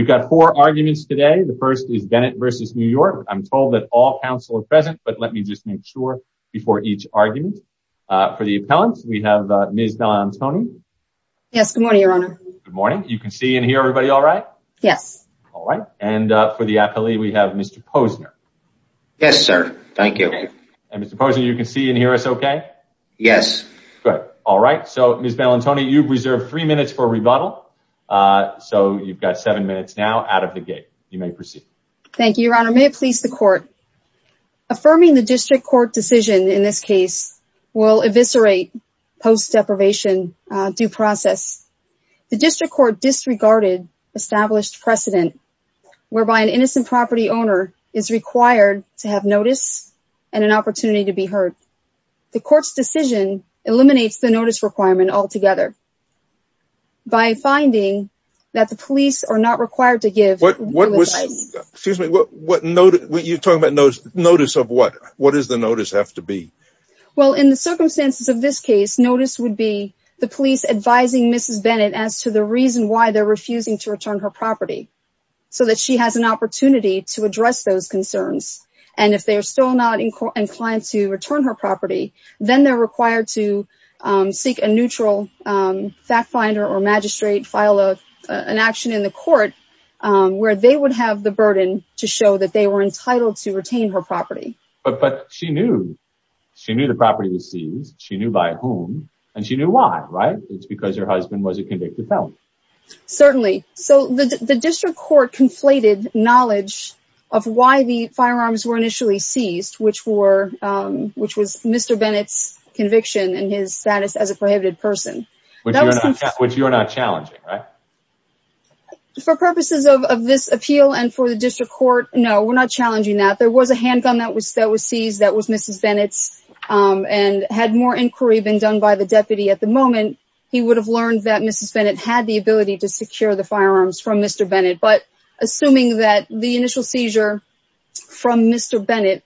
We've got four arguments today. The first is Bennett v. New York. I'm told that all counsel are present, but let me just make sure before each argument. For the appellant, we have Ms. Bellantoni. Yes, good morning, Your Honor. Good morning. You can see and hear everybody all right? Yes. All right. And for the appellee, we have Mr. Posner. Yes, sir. Thank you. And Mr. Posner, you can see and hear us okay? Yes. Good. All right. So, Ms. Bellantoni, you've reserved three minutes for rebuttal, so you've got seven minutes now out of the gate. You may proceed. Thank you, Your Honor. May it please the court. Affirming the district court decision in this case will eviscerate post-deprivation due process. The district court disregarded established precedent whereby an innocent property owner is required to have notice and an opportunity to be heard. The court's decision eliminates the notice requirement altogether by finding that the police are not required to give notice. Excuse me, what notice? You're talking about notice of what? What does the notice have to be? Well, in the circumstances of this case, notice would be the police advising Mrs. Bennett as to the reason why they're refusing to return her property, so that she has an opportunity to address those concerns. And if they are still not inclined to return her property, then they're required to seek a neutral fact finder or magistrate, file an action in the court where they would have the burden to show that they were entitled to retain her property. But she knew. She knew the property was seized. She knew by whom, and she knew why, right? It's because her husband was a convicted felon. Certainly. So, the district court conflated knowledge of why the firearms were initially seized, which was Mr. Bennett's conviction and his status as a prohibited person. Which you're not challenging, right? For purposes of this appeal and for the district court, no, we're not challenging that. There was a handgun that was seized, that was Mrs. Bennett's, and had more inquiry been done by the deputy at the moment, he would have learned that Mrs. Bennett had the ability to secure the firearms from Mr. Bennett. But assuming that the initial Mr. Bennett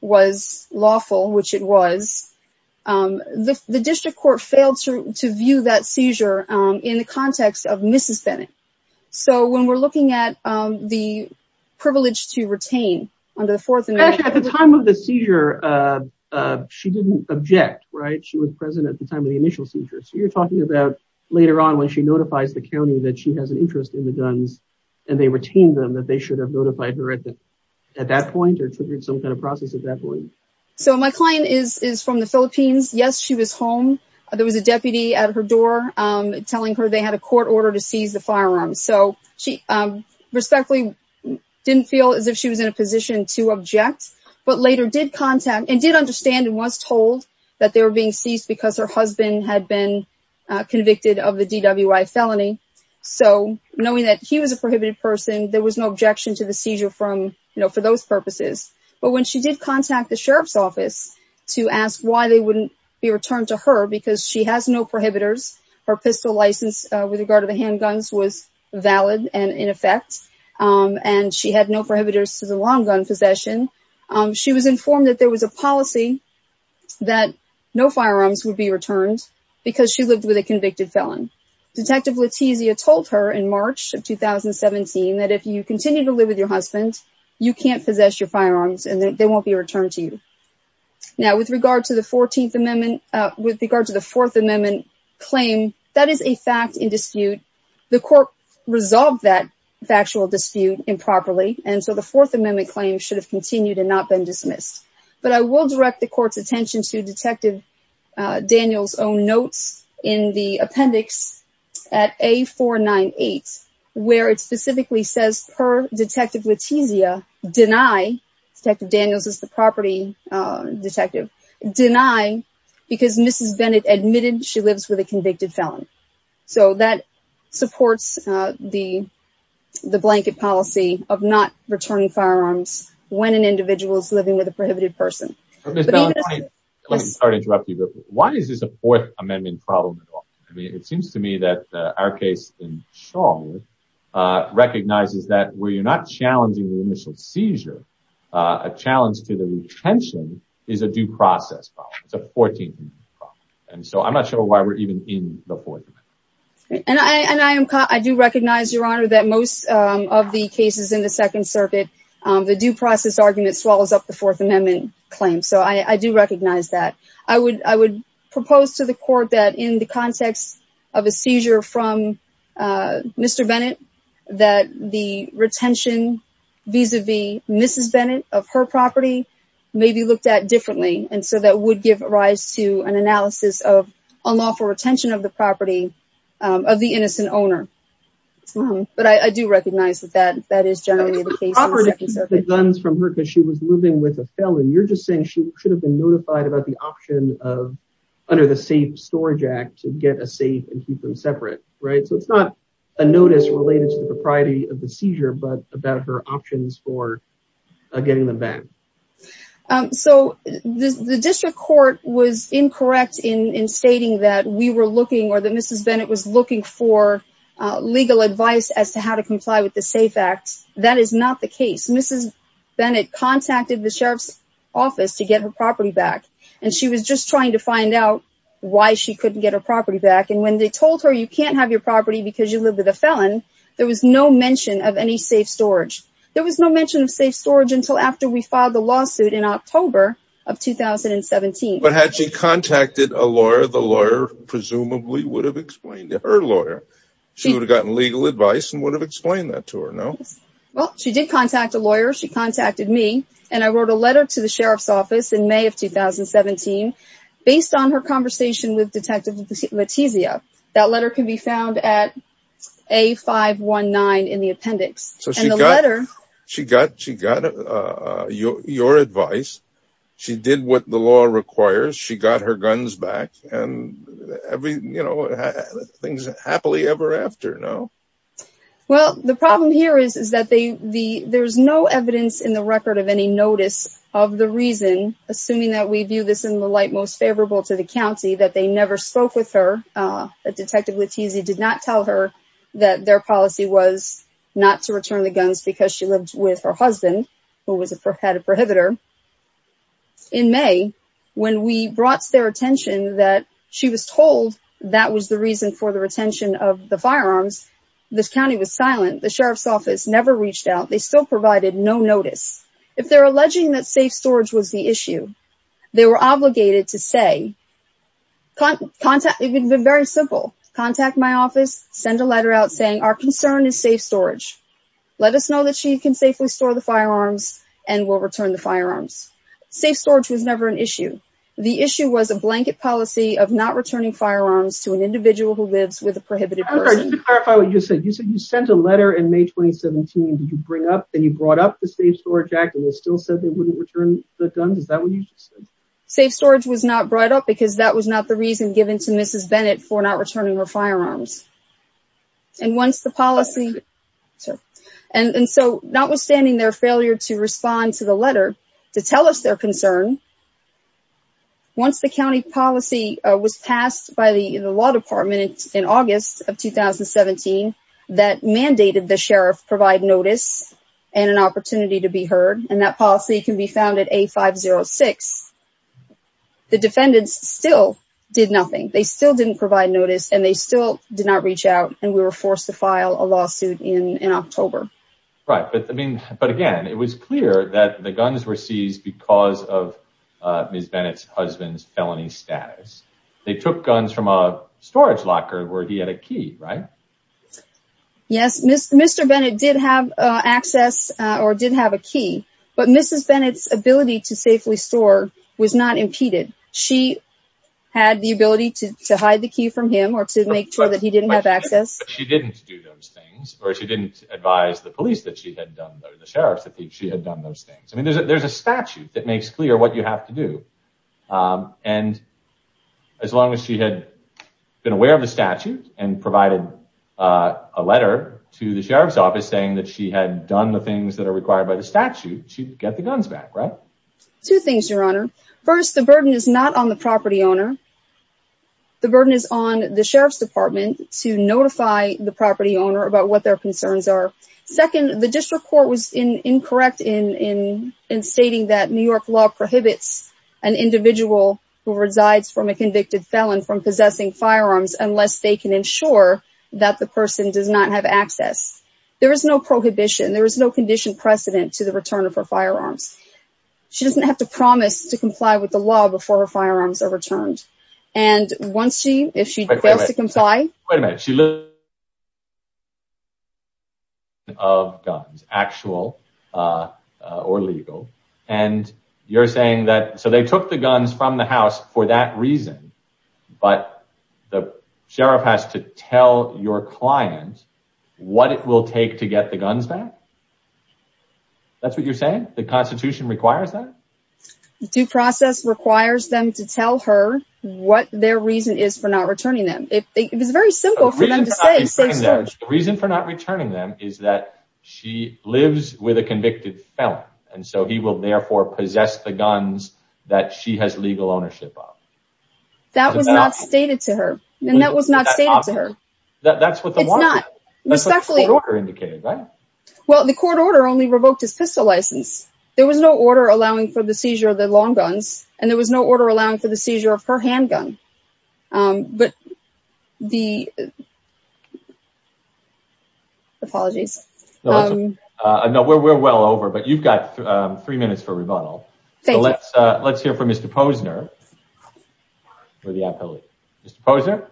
was lawful, which it was, the district court failed to view that seizure in the context of Mrs. Bennett. So, when we're looking at the privilege to retain under the Fourth Amendment... Actually, at the time of the seizure, she didn't object, right? She was present at the time of the initial seizure. So, you're talking about later on when she notifies the county that she has an interest in the guns, and they retain them, that they should have notified her at that point, or triggered some kind of process at that point. So, my client is from the Philippines. Yes, she was home. There was a deputy at her door telling her they had a court order to seize the firearms. So, she respectfully didn't feel as if she was in a position to object, but later did contact and did understand and was told that they were being seized because her husband had been convicted of the DWI felony. So, knowing that he was a convicted felon, there was no objection to the seizure for those purposes. But when she did contact the sheriff's office to ask why they wouldn't be returned to her because she has no prohibitors, her pistol license with regard to the handguns was valid and in effect, and she had no prohibitors to the long gun possession. She was informed that there was a policy that no firearms would be returned because she lived with a convicted felon. Detective Letizia told her in March of 2017 that if you continue to live with your husband, you can't possess your firearms and they won't be returned to you. Now, with regard to the 14th Amendment, with regard to the Fourth Amendment claim, that is a fact in dispute. The court resolved that factual dispute improperly. And so, the Fourth Amendment claim should have continued and not been dismissed. But I will direct the court's attention to Detective Daniel's own notes in the appendix at A and it specifically says, per Detective Letizia, deny, Detective Daniels is the property detective, deny because Mrs. Bennett admitted she lives with a convicted felon. So, that supports the blanket policy of not returning firearms when an individual is living with a prohibited person. But Ms. Valentine, let me start to interrupt you, but why is this a Fourth Amendment claim? Well, first of all, I'm not sure why we're even in the Fourth Amendment. And I do recognize, Your Honor, that most of the cases in the Second Circuit, the due process argument swallows up the Fourth Amendment claim. So, I do recognize that. I would propose to the court that, in the context of a seizure Mr. Bennett, that the retention vis-a-vis Mrs. Bennett of her property may be looked at differently. And so, that would give rise to an analysis of unlawful retention of the property of the innocent owner. But I do recognize that that is generally the case in the Second Circuit. It's improper to keep the guns from her because she was living with a felon. You're just saying she should have been notified about the option of, under the to get a safe and keep them separate, right? So, it's not a notice related to the propriety of the seizure, but about her options for getting them back. So, the district court was incorrect in stating that we were looking, or that Mrs. Bennett was looking for legal advice as to how to comply with the SAFE Act. That is not the case. Mrs. Bennett contacted the Sheriff's Office to get her back. And when they told her, you can't have your property because you live with a felon, there was no mention of any safe storage. There was no mention of safe storage until after we filed the lawsuit in October of 2017. But had she contacted a lawyer, the lawyer presumably would have explained to her lawyer. She would have gotten legal advice and would have explained that to her, no? Well, she did contact a lawyer. She contacted me. And I wrote a letter to the detective Letizia. That letter can be found at A519 in the appendix. So, she got your advice. She did what the law requires. She got her guns back. And, you know, things happily ever after, no? Well, the problem here is that there's no evidence in the record of any notice of the reason, assuming that we view this in the light most favorable to the county, that they never spoke with her. Detective Letizia did not tell her that their policy was not to return the guns because she lived with her husband, who had a prohibitor. In May, when we brought their attention that she was told that was the reason for the retention of the firearms, the county was silent. The Sheriff's Office never reached out. They still provided no notice. If they're alleging that safe storage was the issue, they were obligated to say, it would have been very simple, contact my office, send a letter out saying our concern is safe storage. Let us know that she can safely store the firearms and we'll return the firearms. Safe storage was never an issue. The issue was a blanket policy of not returning firearms to an individual who lives with a prohibited person. Just to clarify what you said, you said you sent a letter in May 2017 that you would return the guns? Is that what you just said? Safe storage was not brought up because that was not the reason given to Mrs. Bennett for not returning her firearms. And once the policy, and so notwithstanding their failure to respond to the letter to tell us their concern, once the county policy was passed by the law department in August of 2017 that mandated the gun to be found at A506, the defendants still did nothing. They still didn't provide notice and they still did not reach out and we were forced to file a lawsuit in October. Right. But again, it was clear that the guns were seized because of Mrs. Bennett's husband's felony status. They took guns from a storage locker where he had a key, right? Yes. Mr. Bennett did have access or did have a key, but Mrs. Bennett's ability to safely store was not impeded. She had the ability to hide the key from him or to make sure that he didn't have access. But she didn't do those things or she didn't advise the police that she had done or the sheriff's that she had done those things. I mean, there's a statute that makes clear what you have to do. And as long as she had been aware of the statute and provided a letter to the sheriff's office saying that she had done the things that are required by the statute, she'd get the guns back, right? Two things, your honor. First, the burden is not on the property owner. The burden is on the sheriff's department to notify the property owner about what their concerns are. Second, the district court was incorrect in stating that New York law prohibits an individual who resides from a convicted felon from possessing and ensuring that the person does not have access. There is no prohibition. There is no condition precedent to the return of her firearms. She doesn't have to promise to comply with the law before her firearms are returned. And once she, if she fails to comply... Wait a minute. She lives with a conviction of guns, actual or legal. And you're saying that, so they took the guns from the house for that reason, but the sheriff has to tell your client what it will take to get the guns back? That's what you're saying? The constitution requires that? Due process requires them to tell her what their reason is for not returning them. It is very simple for them to say... The reason for not returning them is that she lives with a convicted felon. And so he will therefore possess the guns that she has legal ownership of. That was not stated to her. And that was not stated to her. That's what the law says. That's what the court order indicated, right? Well, the court order only revoked his pistol license. There was no order allowing for the seizure of the long guns. And there was no order allowing for the seizure of her handgun. But the... Apologies. No, we're well over, but you've got three minutes for rebuttal. Thank you. Let's hear from Mr. Posner. Mr. Posner?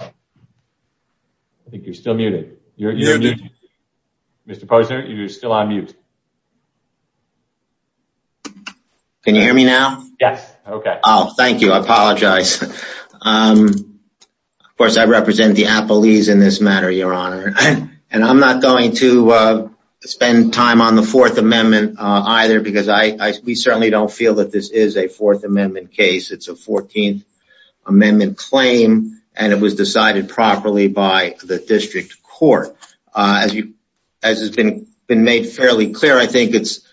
I think you're still muted. Mr. Posner, you're still on mute. Can you hear me now? Yes. Okay. Oh, thank you. I apologize. Of course, I represent the appellees in this matter, Your Honor. And I'm not going to spend time on the Fourth Amendment either, because we certainly don't feel that this is a Fourth Amendment case. It's a 14th Amendment claim, and it was decided properly by the district court. As has been made fairly clear, I think it's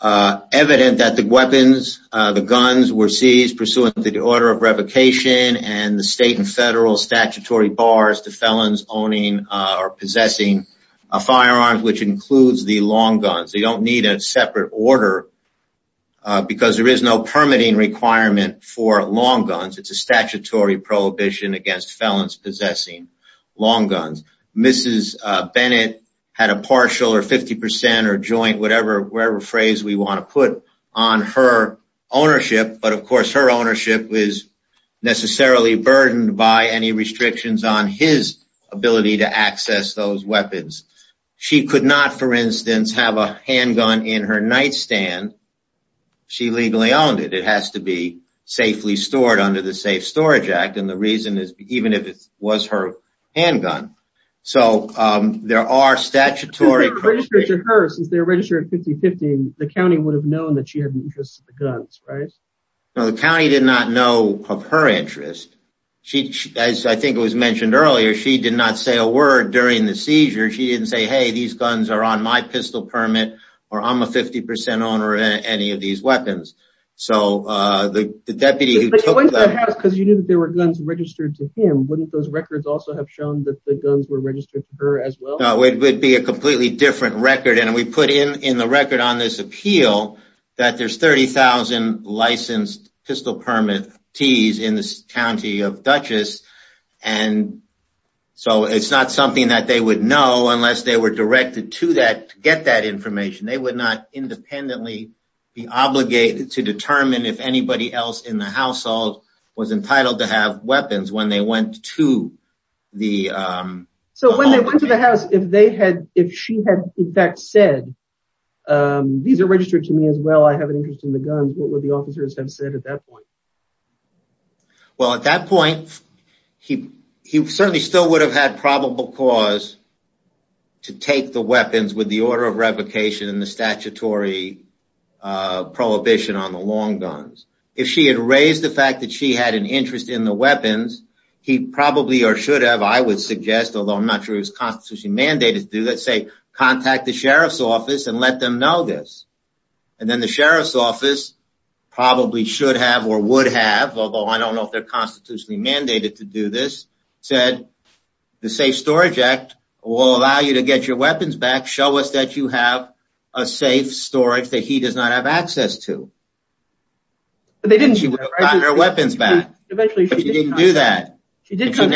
evident that the weapons, the guns were seized pursuant to the order of revocation and the state and federal statutory bars to felons owning or possessing a firearm, which includes the long guns. They don't need a separate order, because there is no permitting requirement for long guns. It's a statutory prohibition against felons possessing long guns. Mrs. Bennett had a partial or 50% or joint, whatever phrase we want to put on her ownership. But of course, her ownership is necessarily burdened by any restrictions on his ability to access those weapons. She could not, for instance, have a handgun in her nightstand. She legally owned it. It has to be safely stored under the Safe Storage Act. And the reason is even if it was her handgun. So there are statutory prohibitions. Since they were registered at 50-50, the county would have known that she had an interest in the guns, right? No, the county did not know of her interest. As I think it was mentioned earlier, she did not say a word during the seizure. She didn't say, hey, these guns are on my pistol permit, or I'm a 50% owner of any of these weapons. So the deputy who took them... But you went to the house because you knew that there were guns registered to him. Wouldn't those records also have shown that the guns were registered to her as well? No, it would be a completely different record. And we put in the record on this appeal that there's 30,000 licensed pistol permittees in the county of Dutchess. And so it's not something that they would know unless they were directed to get that information. They would not independently be obligated to determine if anybody else in the household was entitled to have weapons when they went to the... So when they went to the house, if she had in fact said, these are registered to me as well, I have an interest in the guns, what would the officers have said at that point? Well, at that point, he certainly still would have had probable cause to take the weapons with the order of revocation and the statutory prohibition on the long guns. If she had raised the fact that she had an interest in the weapons, he probably or should have, I would suggest, although I'm not sure it was constitutionally mandated to do that, say, contact the sheriff's office and let them know this. And then the sheriff's office probably should have or would have, although I don't know if they're constitutionally mandated to do this, said, the Safe Storage Act will allow you to get your weapons back. Show us that you have a safe storage that he does not have access to. But they didn't. She would have gotten her weapons back. But she didn't do that. She did come...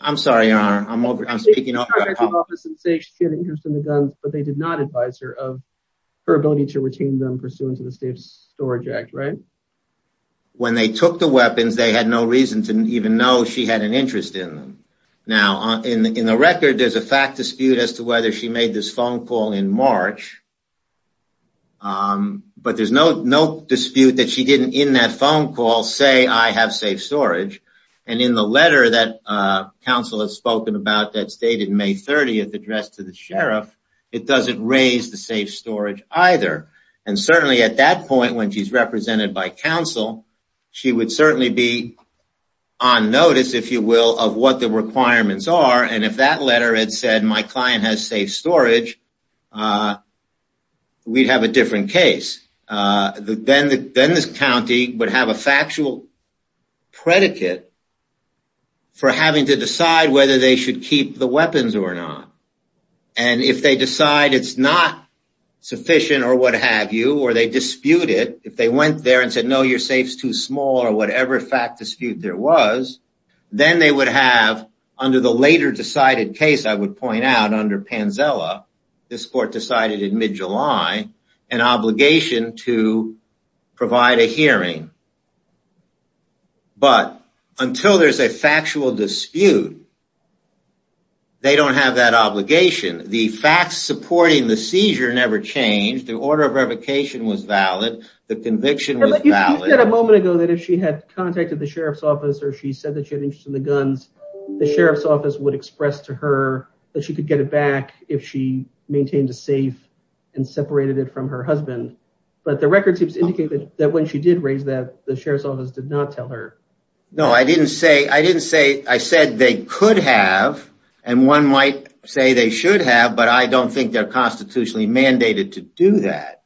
I'm sorry, I'm speaking over... The sheriff's office did say she had an interest in the guns, but they did not advise her of her ability to retain them pursuant to the Safe Storage Act, right? When they took the weapons, they had no reason to even know she had an interest in them. Now, in the record, there's a fact dispute as to whether she made this phone call in March, but there's no dispute that she didn't, in that phone call, say, I have safe storage. And in the letter that counsel has spoken about that's dated May 30th, addressed to the sheriff, it doesn't raise the safe storage either. And certainly at that point, when she's represented by counsel, she would certainly be on notice, if you will, of what the requirements are. And if that letter had said, my client has safe storage, we'd have a different case. Then this county would have a factual predicate for having to decide whether they should keep the weapons or not. And if they decide it's not sufficient or what have you, or they dispute it, if they went there and said, no, your safe's too small, or whatever fact dispute there was, then they would have, under the later decided case I would point out under Panzella, this court decided in mid-July, an obligation to provide a hearing. But until there's a factual dispute, they don't have that obligation. The facts supporting the seizure never changed. The order of revocation was valid. The conviction was valid. You said a moment ago that if she had contacted the sheriff's office or she said that she had interest in the guns, the sheriff's office would express to her that she could get it back if she maintained a safe and separated it from her husband. But the record seems to indicate that when she did raise that, the sheriff's office did not tell her. No, I didn't say, I said they could have, and one might say they should have, but I don't think they're constitutionally mandated to do that.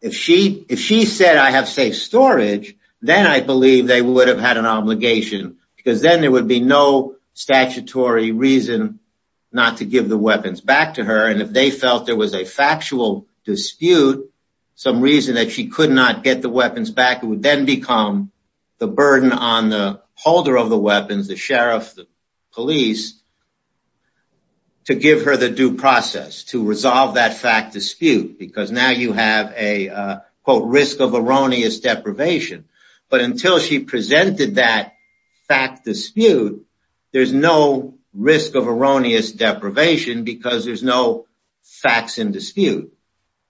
If she said I have safe storage, then I believe they would have had an obligation because then there would be no statutory reason not to give the weapons back to her, and if they felt there was a factual dispute, some reason that she could not get the weapons back, it would then become the burden on the holder of the weapons, the sheriff, the police, to give her the due process to resolve that fact dispute, because now you have a, quote, risk of erroneous deprivation. But until she presented that fact dispute, there's no risk of erroneous deprivation because there's no facts in dispute.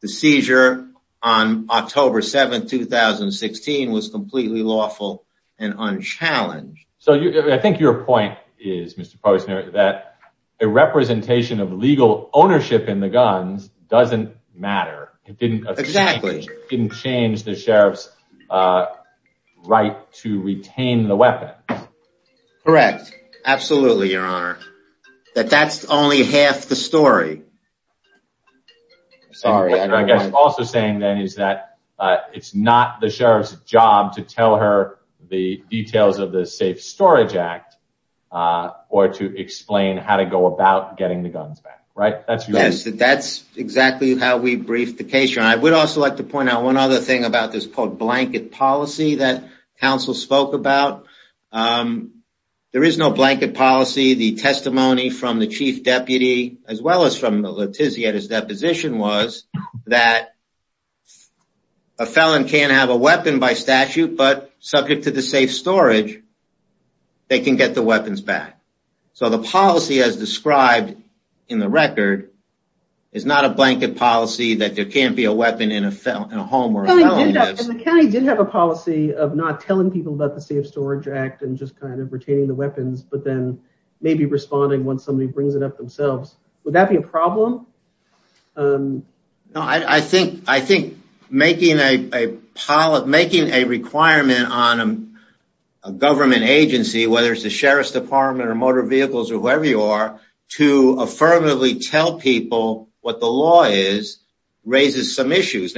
The seizure on October 7, 2016, was completely lawful and unchallenged. So I think your point is, Mr. Posner, that a representation of legal ownership in the guns doesn't matter. Exactly. It didn't change the sheriff's right to retain the weapons. Correct. Absolutely, Your Honor. That's only half the story. Sorry. I guess also saying then is that it's not the sheriff's job to tell her the details of the Safe Storage Act or to explain how to go about getting the guns back, right? Yes, that's exactly how we briefed the case, Your Honor. I would also like to point out one other thing about this, quote, blanket policy that counsel spoke about. There is no blanket policy. The testimony from the chief deputy, as well as from Letizia at his deposition, was that a felon can't have a weapon by statute, but subject to the safe storage, they can get the weapons back. So the policy as described in the record is not a blanket policy that there can't be a weapon in a home where a felon lives. And the county did have a policy of not telling people about the Safe Storage Act and just kind of retaining the weapons, but then maybe responding once somebody brings it up themselves. Would that be a problem? I think making a requirement on a government agency, whether it's the Department of Motor Vehicles or whoever you are, to affirmatively tell people what the law is raises some issues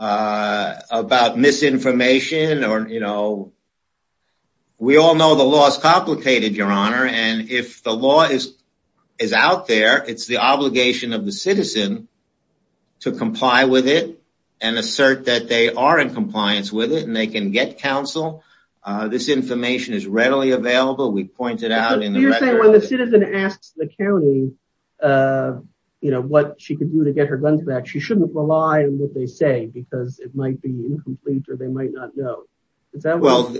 about misinformation or, you know, we all know the law is complicated, Your Honor, and if the law is out there, it's the obligation of the citizen to comply with it and assert that they are in compliance with it and they can get counsel. This information is readily available. We point it out in the record. You're saying when the citizen asks the county, you know, what she can do to get her guns back, she shouldn't rely on what they say because it might be incomplete or they might not know. Well,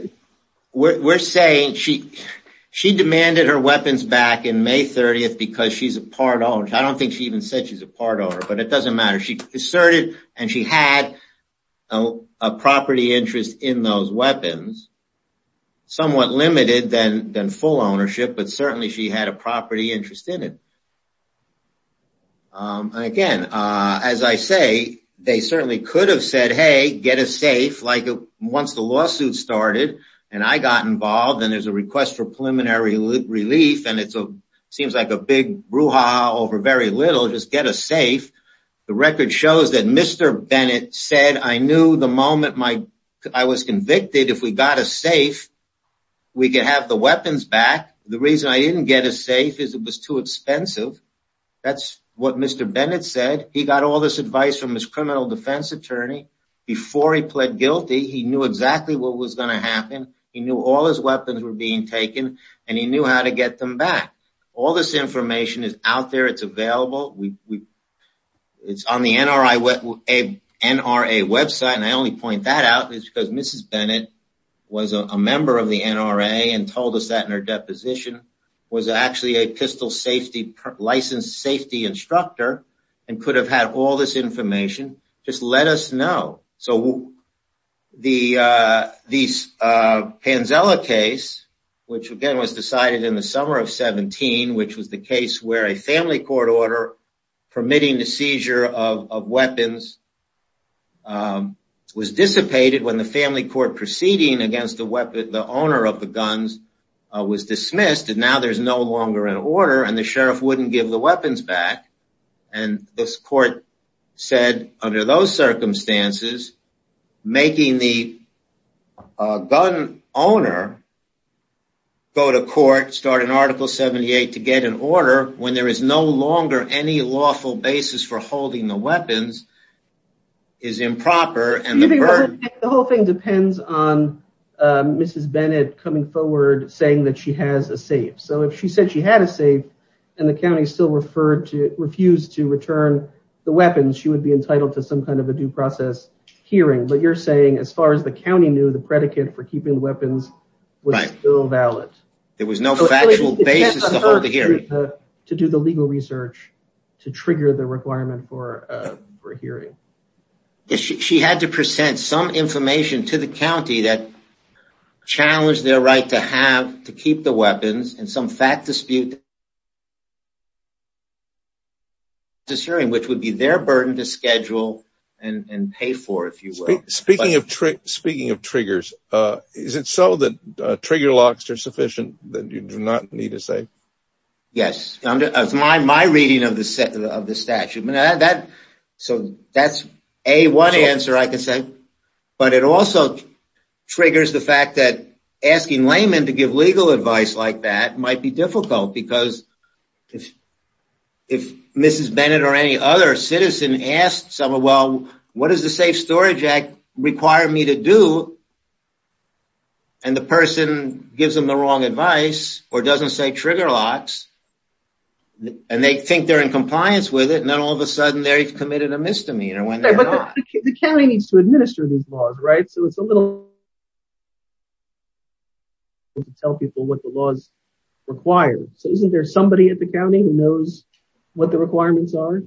we're saying she demanded her weapons back in May 30th because she's a part owner. I don't think she even said she's a part owner, but it doesn't matter. She asserted and she had a property interest in those weapons, somewhat limited than full ownership, but certainly she had a property interest in it. Again, as I say, they certainly could have said, hey, get a safe, like once the lawsuit started and I got involved and there's a request for preliminary relief and it seems like a big brouhaha over very little, just get a safe. The record shows that Mr. Bennett said, I knew the moment I was convicted, if we got a safe, we could have the weapons back. The reason I didn't get a safe is it was too expensive. That's what Mr. Bennett said. He got all this advice from his criminal defense attorney. Before he pled guilty, he knew exactly what was going to happen. He knew all his weapons were being taken and he knew how to get them back. All this information is out there. It's available. It's on the NRA website and I only point that out because Mrs. Bennett was a member of the NRA and told us that in her deposition, was actually a pistol safety licensed safety instructor and could have had all this information. Just let us know. The Panzella case, which again was decided in the summer of 17, which was the family court permitting the seizure of weapons, was dissipated when the family court proceeding against the owner of the guns was dismissed and now there's no longer an order and the sheriff wouldn't give the weapons back. This court said under those circumstances, making the gun owner go to court, starting article 78 to get an order when there is no longer any lawful basis for holding the weapons is improper. The whole thing depends on Mrs. Bennett coming forward saying that she has a safe. So if she said she had a safe and the county still refused to return the weapons, she would be entitled to some kind of a due process hearing. But you're saying as far as the county knew, the predicate for keeping weapons was still valid. There was no factual basis to hold the hearing. To do the legal research to trigger the requirement for a hearing. She had to present some information to the county that challenged their right to have, to keep the weapons and some fact dispute, which would be their burden to schedule and pay for, if you will. Speaking of triggers, is it so that trigger locks are sufficient that you do not need a safe? Yes. That's my reading of the statute. So that's A, one answer I can say. But it also triggers the fact that asking laymen to give legal advice like that might be difficult because if Mrs. Bennett or any other citizen asked someone, well, what does the Safe Storage Act require me to do? And the person gives them the wrong advice or doesn't say trigger locks and they think they're in compliance with it and then all of a sudden they've committed a misdemeanor when they're not. The county needs to administer these laws, right? So it's a little difficult to tell people what the laws require. So isn't there somebody at the county who knows what the requirements are?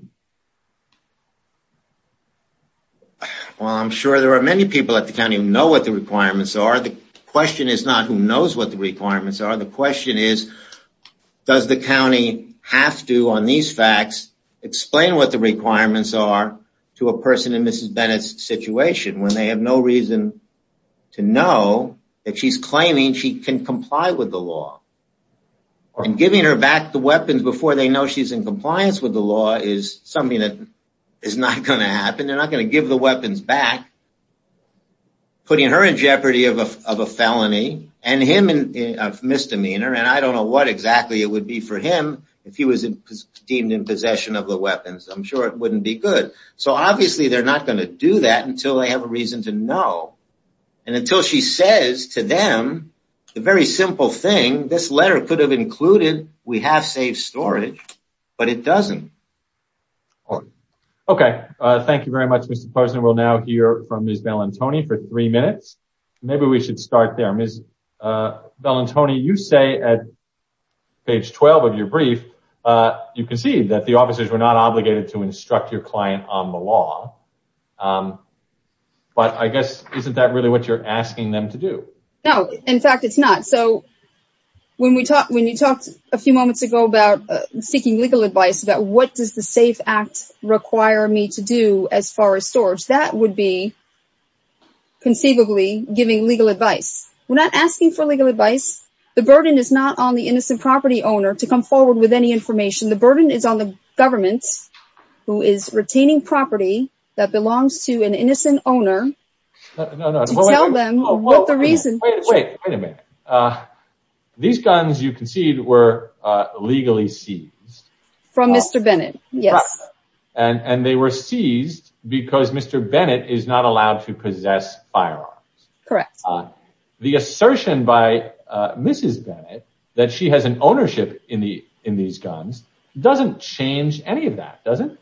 Well, I'm sure there are many people at the county who know what the requirements are. The question is not who knows what the requirements are. The question is does the county have to, on these facts, explain what the requirements are to a person in Mrs. Bennett's situation when they have no And giving her back the weapons before they know she's in compliance with the law is something that is not going to happen. They're not going to give the weapons back, putting her in jeopardy of a felony and him in a misdemeanor. And I don't know what exactly it would be for him if he was deemed in possession of the weapons. I'm sure it wouldn't be good. So obviously they're not going to do that until they have a reason to know. And until she says to them the very simple thing, this letter could have included we have safe storage, but it doesn't. Okay. Thank you very much, Mr. Posner. We'll now hear from Ms. Bellantoni for three minutes. Maybe we should start there. Ms. Bellantoni, you say at page 12 of your brief you concede that the officers were not obligated to instruct your client on the law. But I guess isn't that really what you're asking them to do? No. In fact, it's not. So when you talked a few moments ago about seeking legal advice about what does the SAFE Act require me to do as far as storage, that would be conceivably giving legal advice. We're not asking for legal advice. The burden is not on the innocent property owner to come forward with any information. The burden is on the government who is retaining property that belongs to an innocent owner to tell them what the reason is. Wait a minute. These guns you concede were legally seized. From Mr. Bennett, yes. And they were seized because Mr. Bennett is not allowed to possess firearms. Correct. The assertion by Mrs. Bennett that she has an ownership in these guns doesn't change any of that, does it?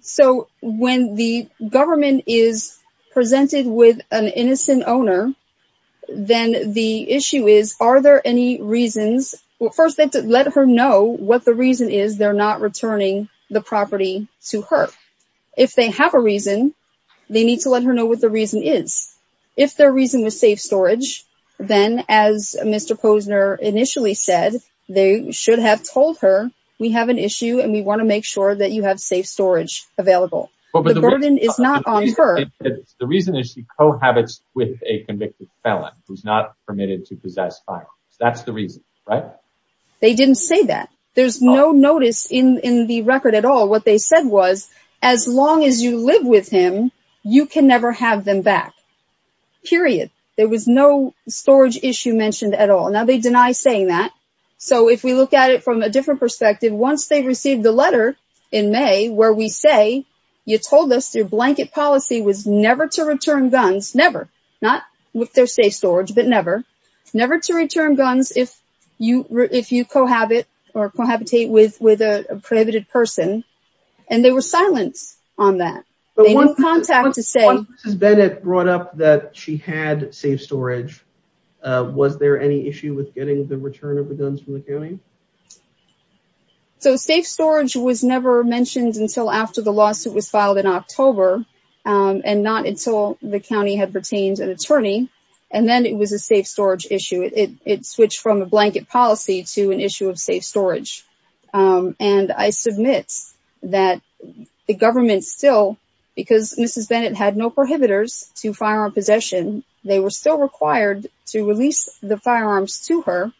So when the government is presented with an innocent owner, then the issue is are there any reasons? First, let her know what the reason is they're not returning the property to her. If they have a reason, they need to let her know what the reason is. If their reason was safe storage, then as Mr. Posner initially said, they should have told her we have an issue and we want to make sure that you have safe storage available. The burden is not on her. The reason is she cohabits with a convicted felon who's not permitted to possess firearms. That's the reason, right? They didn't say that. There's no notice in the record at all. What they said was as long as you live with him, you can never have them back. Period. There was no storage issue mentioned at all. Now, they deny saying that. So if we look at it from a different perspective, once they received the letter in May where we say you told us your blanket policy was never to return guns, never, not with their safe storage, but never, never to return guns if you cohabit or cohabitate with a prohibited person, and they were silent on that. They didn't contact to say. Mrs. Bennett brought up that she had safe storage. Was there any issue with getting the return of the guns from the county? So safe storage was never mentioned until after the lawsuit was filed in October and not until the county had retained an attorney, and then it was a safe storage issue. It switched from a blanket policy to an issue of safe storage. And I submit that the government still, because Mrs. Bennett had no prohibitors to firearm possession, they were still required to release the firearms to her,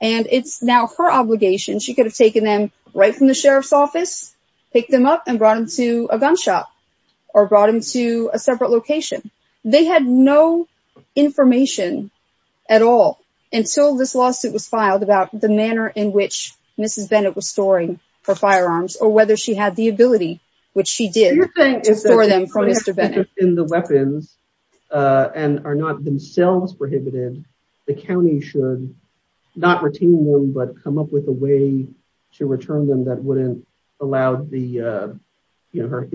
and it's now her obligation. She could have taken them right from the sheriff's office, picked them up, and brought them to a gun shop or brought them to a separate location. They had no information at all until this lawsuit was filed about the manner in which Mrs. Bennett was storing her firearms or whether she had the ability, which she did, to store them from Mr. Bennett. If the weapons are not themselves prohibited, the county should not retain them but come up with a way to return them that wouldn't allow, in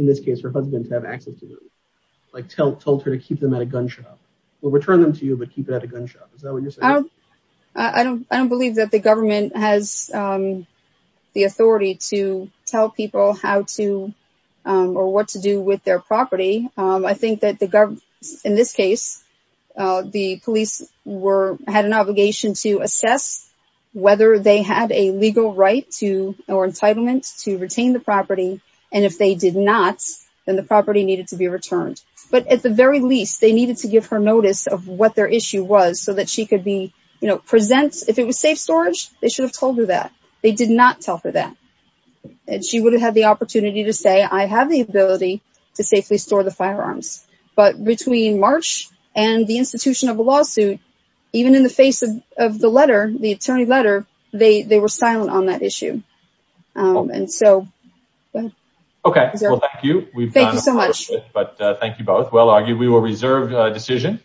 this case, her husband to have access to them. Like told her to keep them at a gun shop or return them to you but keep it at a gun shop. Is that what you're saying? I don't believe that the government has the authority to tell people how to or what to do with their property. I think that in this case, the police had an obligation to assess whether they had a legal right or entitlement to retain the property, and if they did not, then the property needed to be returned. But at the very least, they needed to give her notice of what their issue was so that she could be, you know, present. If it was safe storage, they should have told her that. They did not tell her that. And she would have had the opportunity to say, I have the ability to safely store the firearms. But between March and the institution of a lawsuit, even in the face of the letter, the attorney letter, they were silent on that issue. And so, go ahead. Okay. Well, thank you. Thank you so much. Thank you both. We will reserve the decision.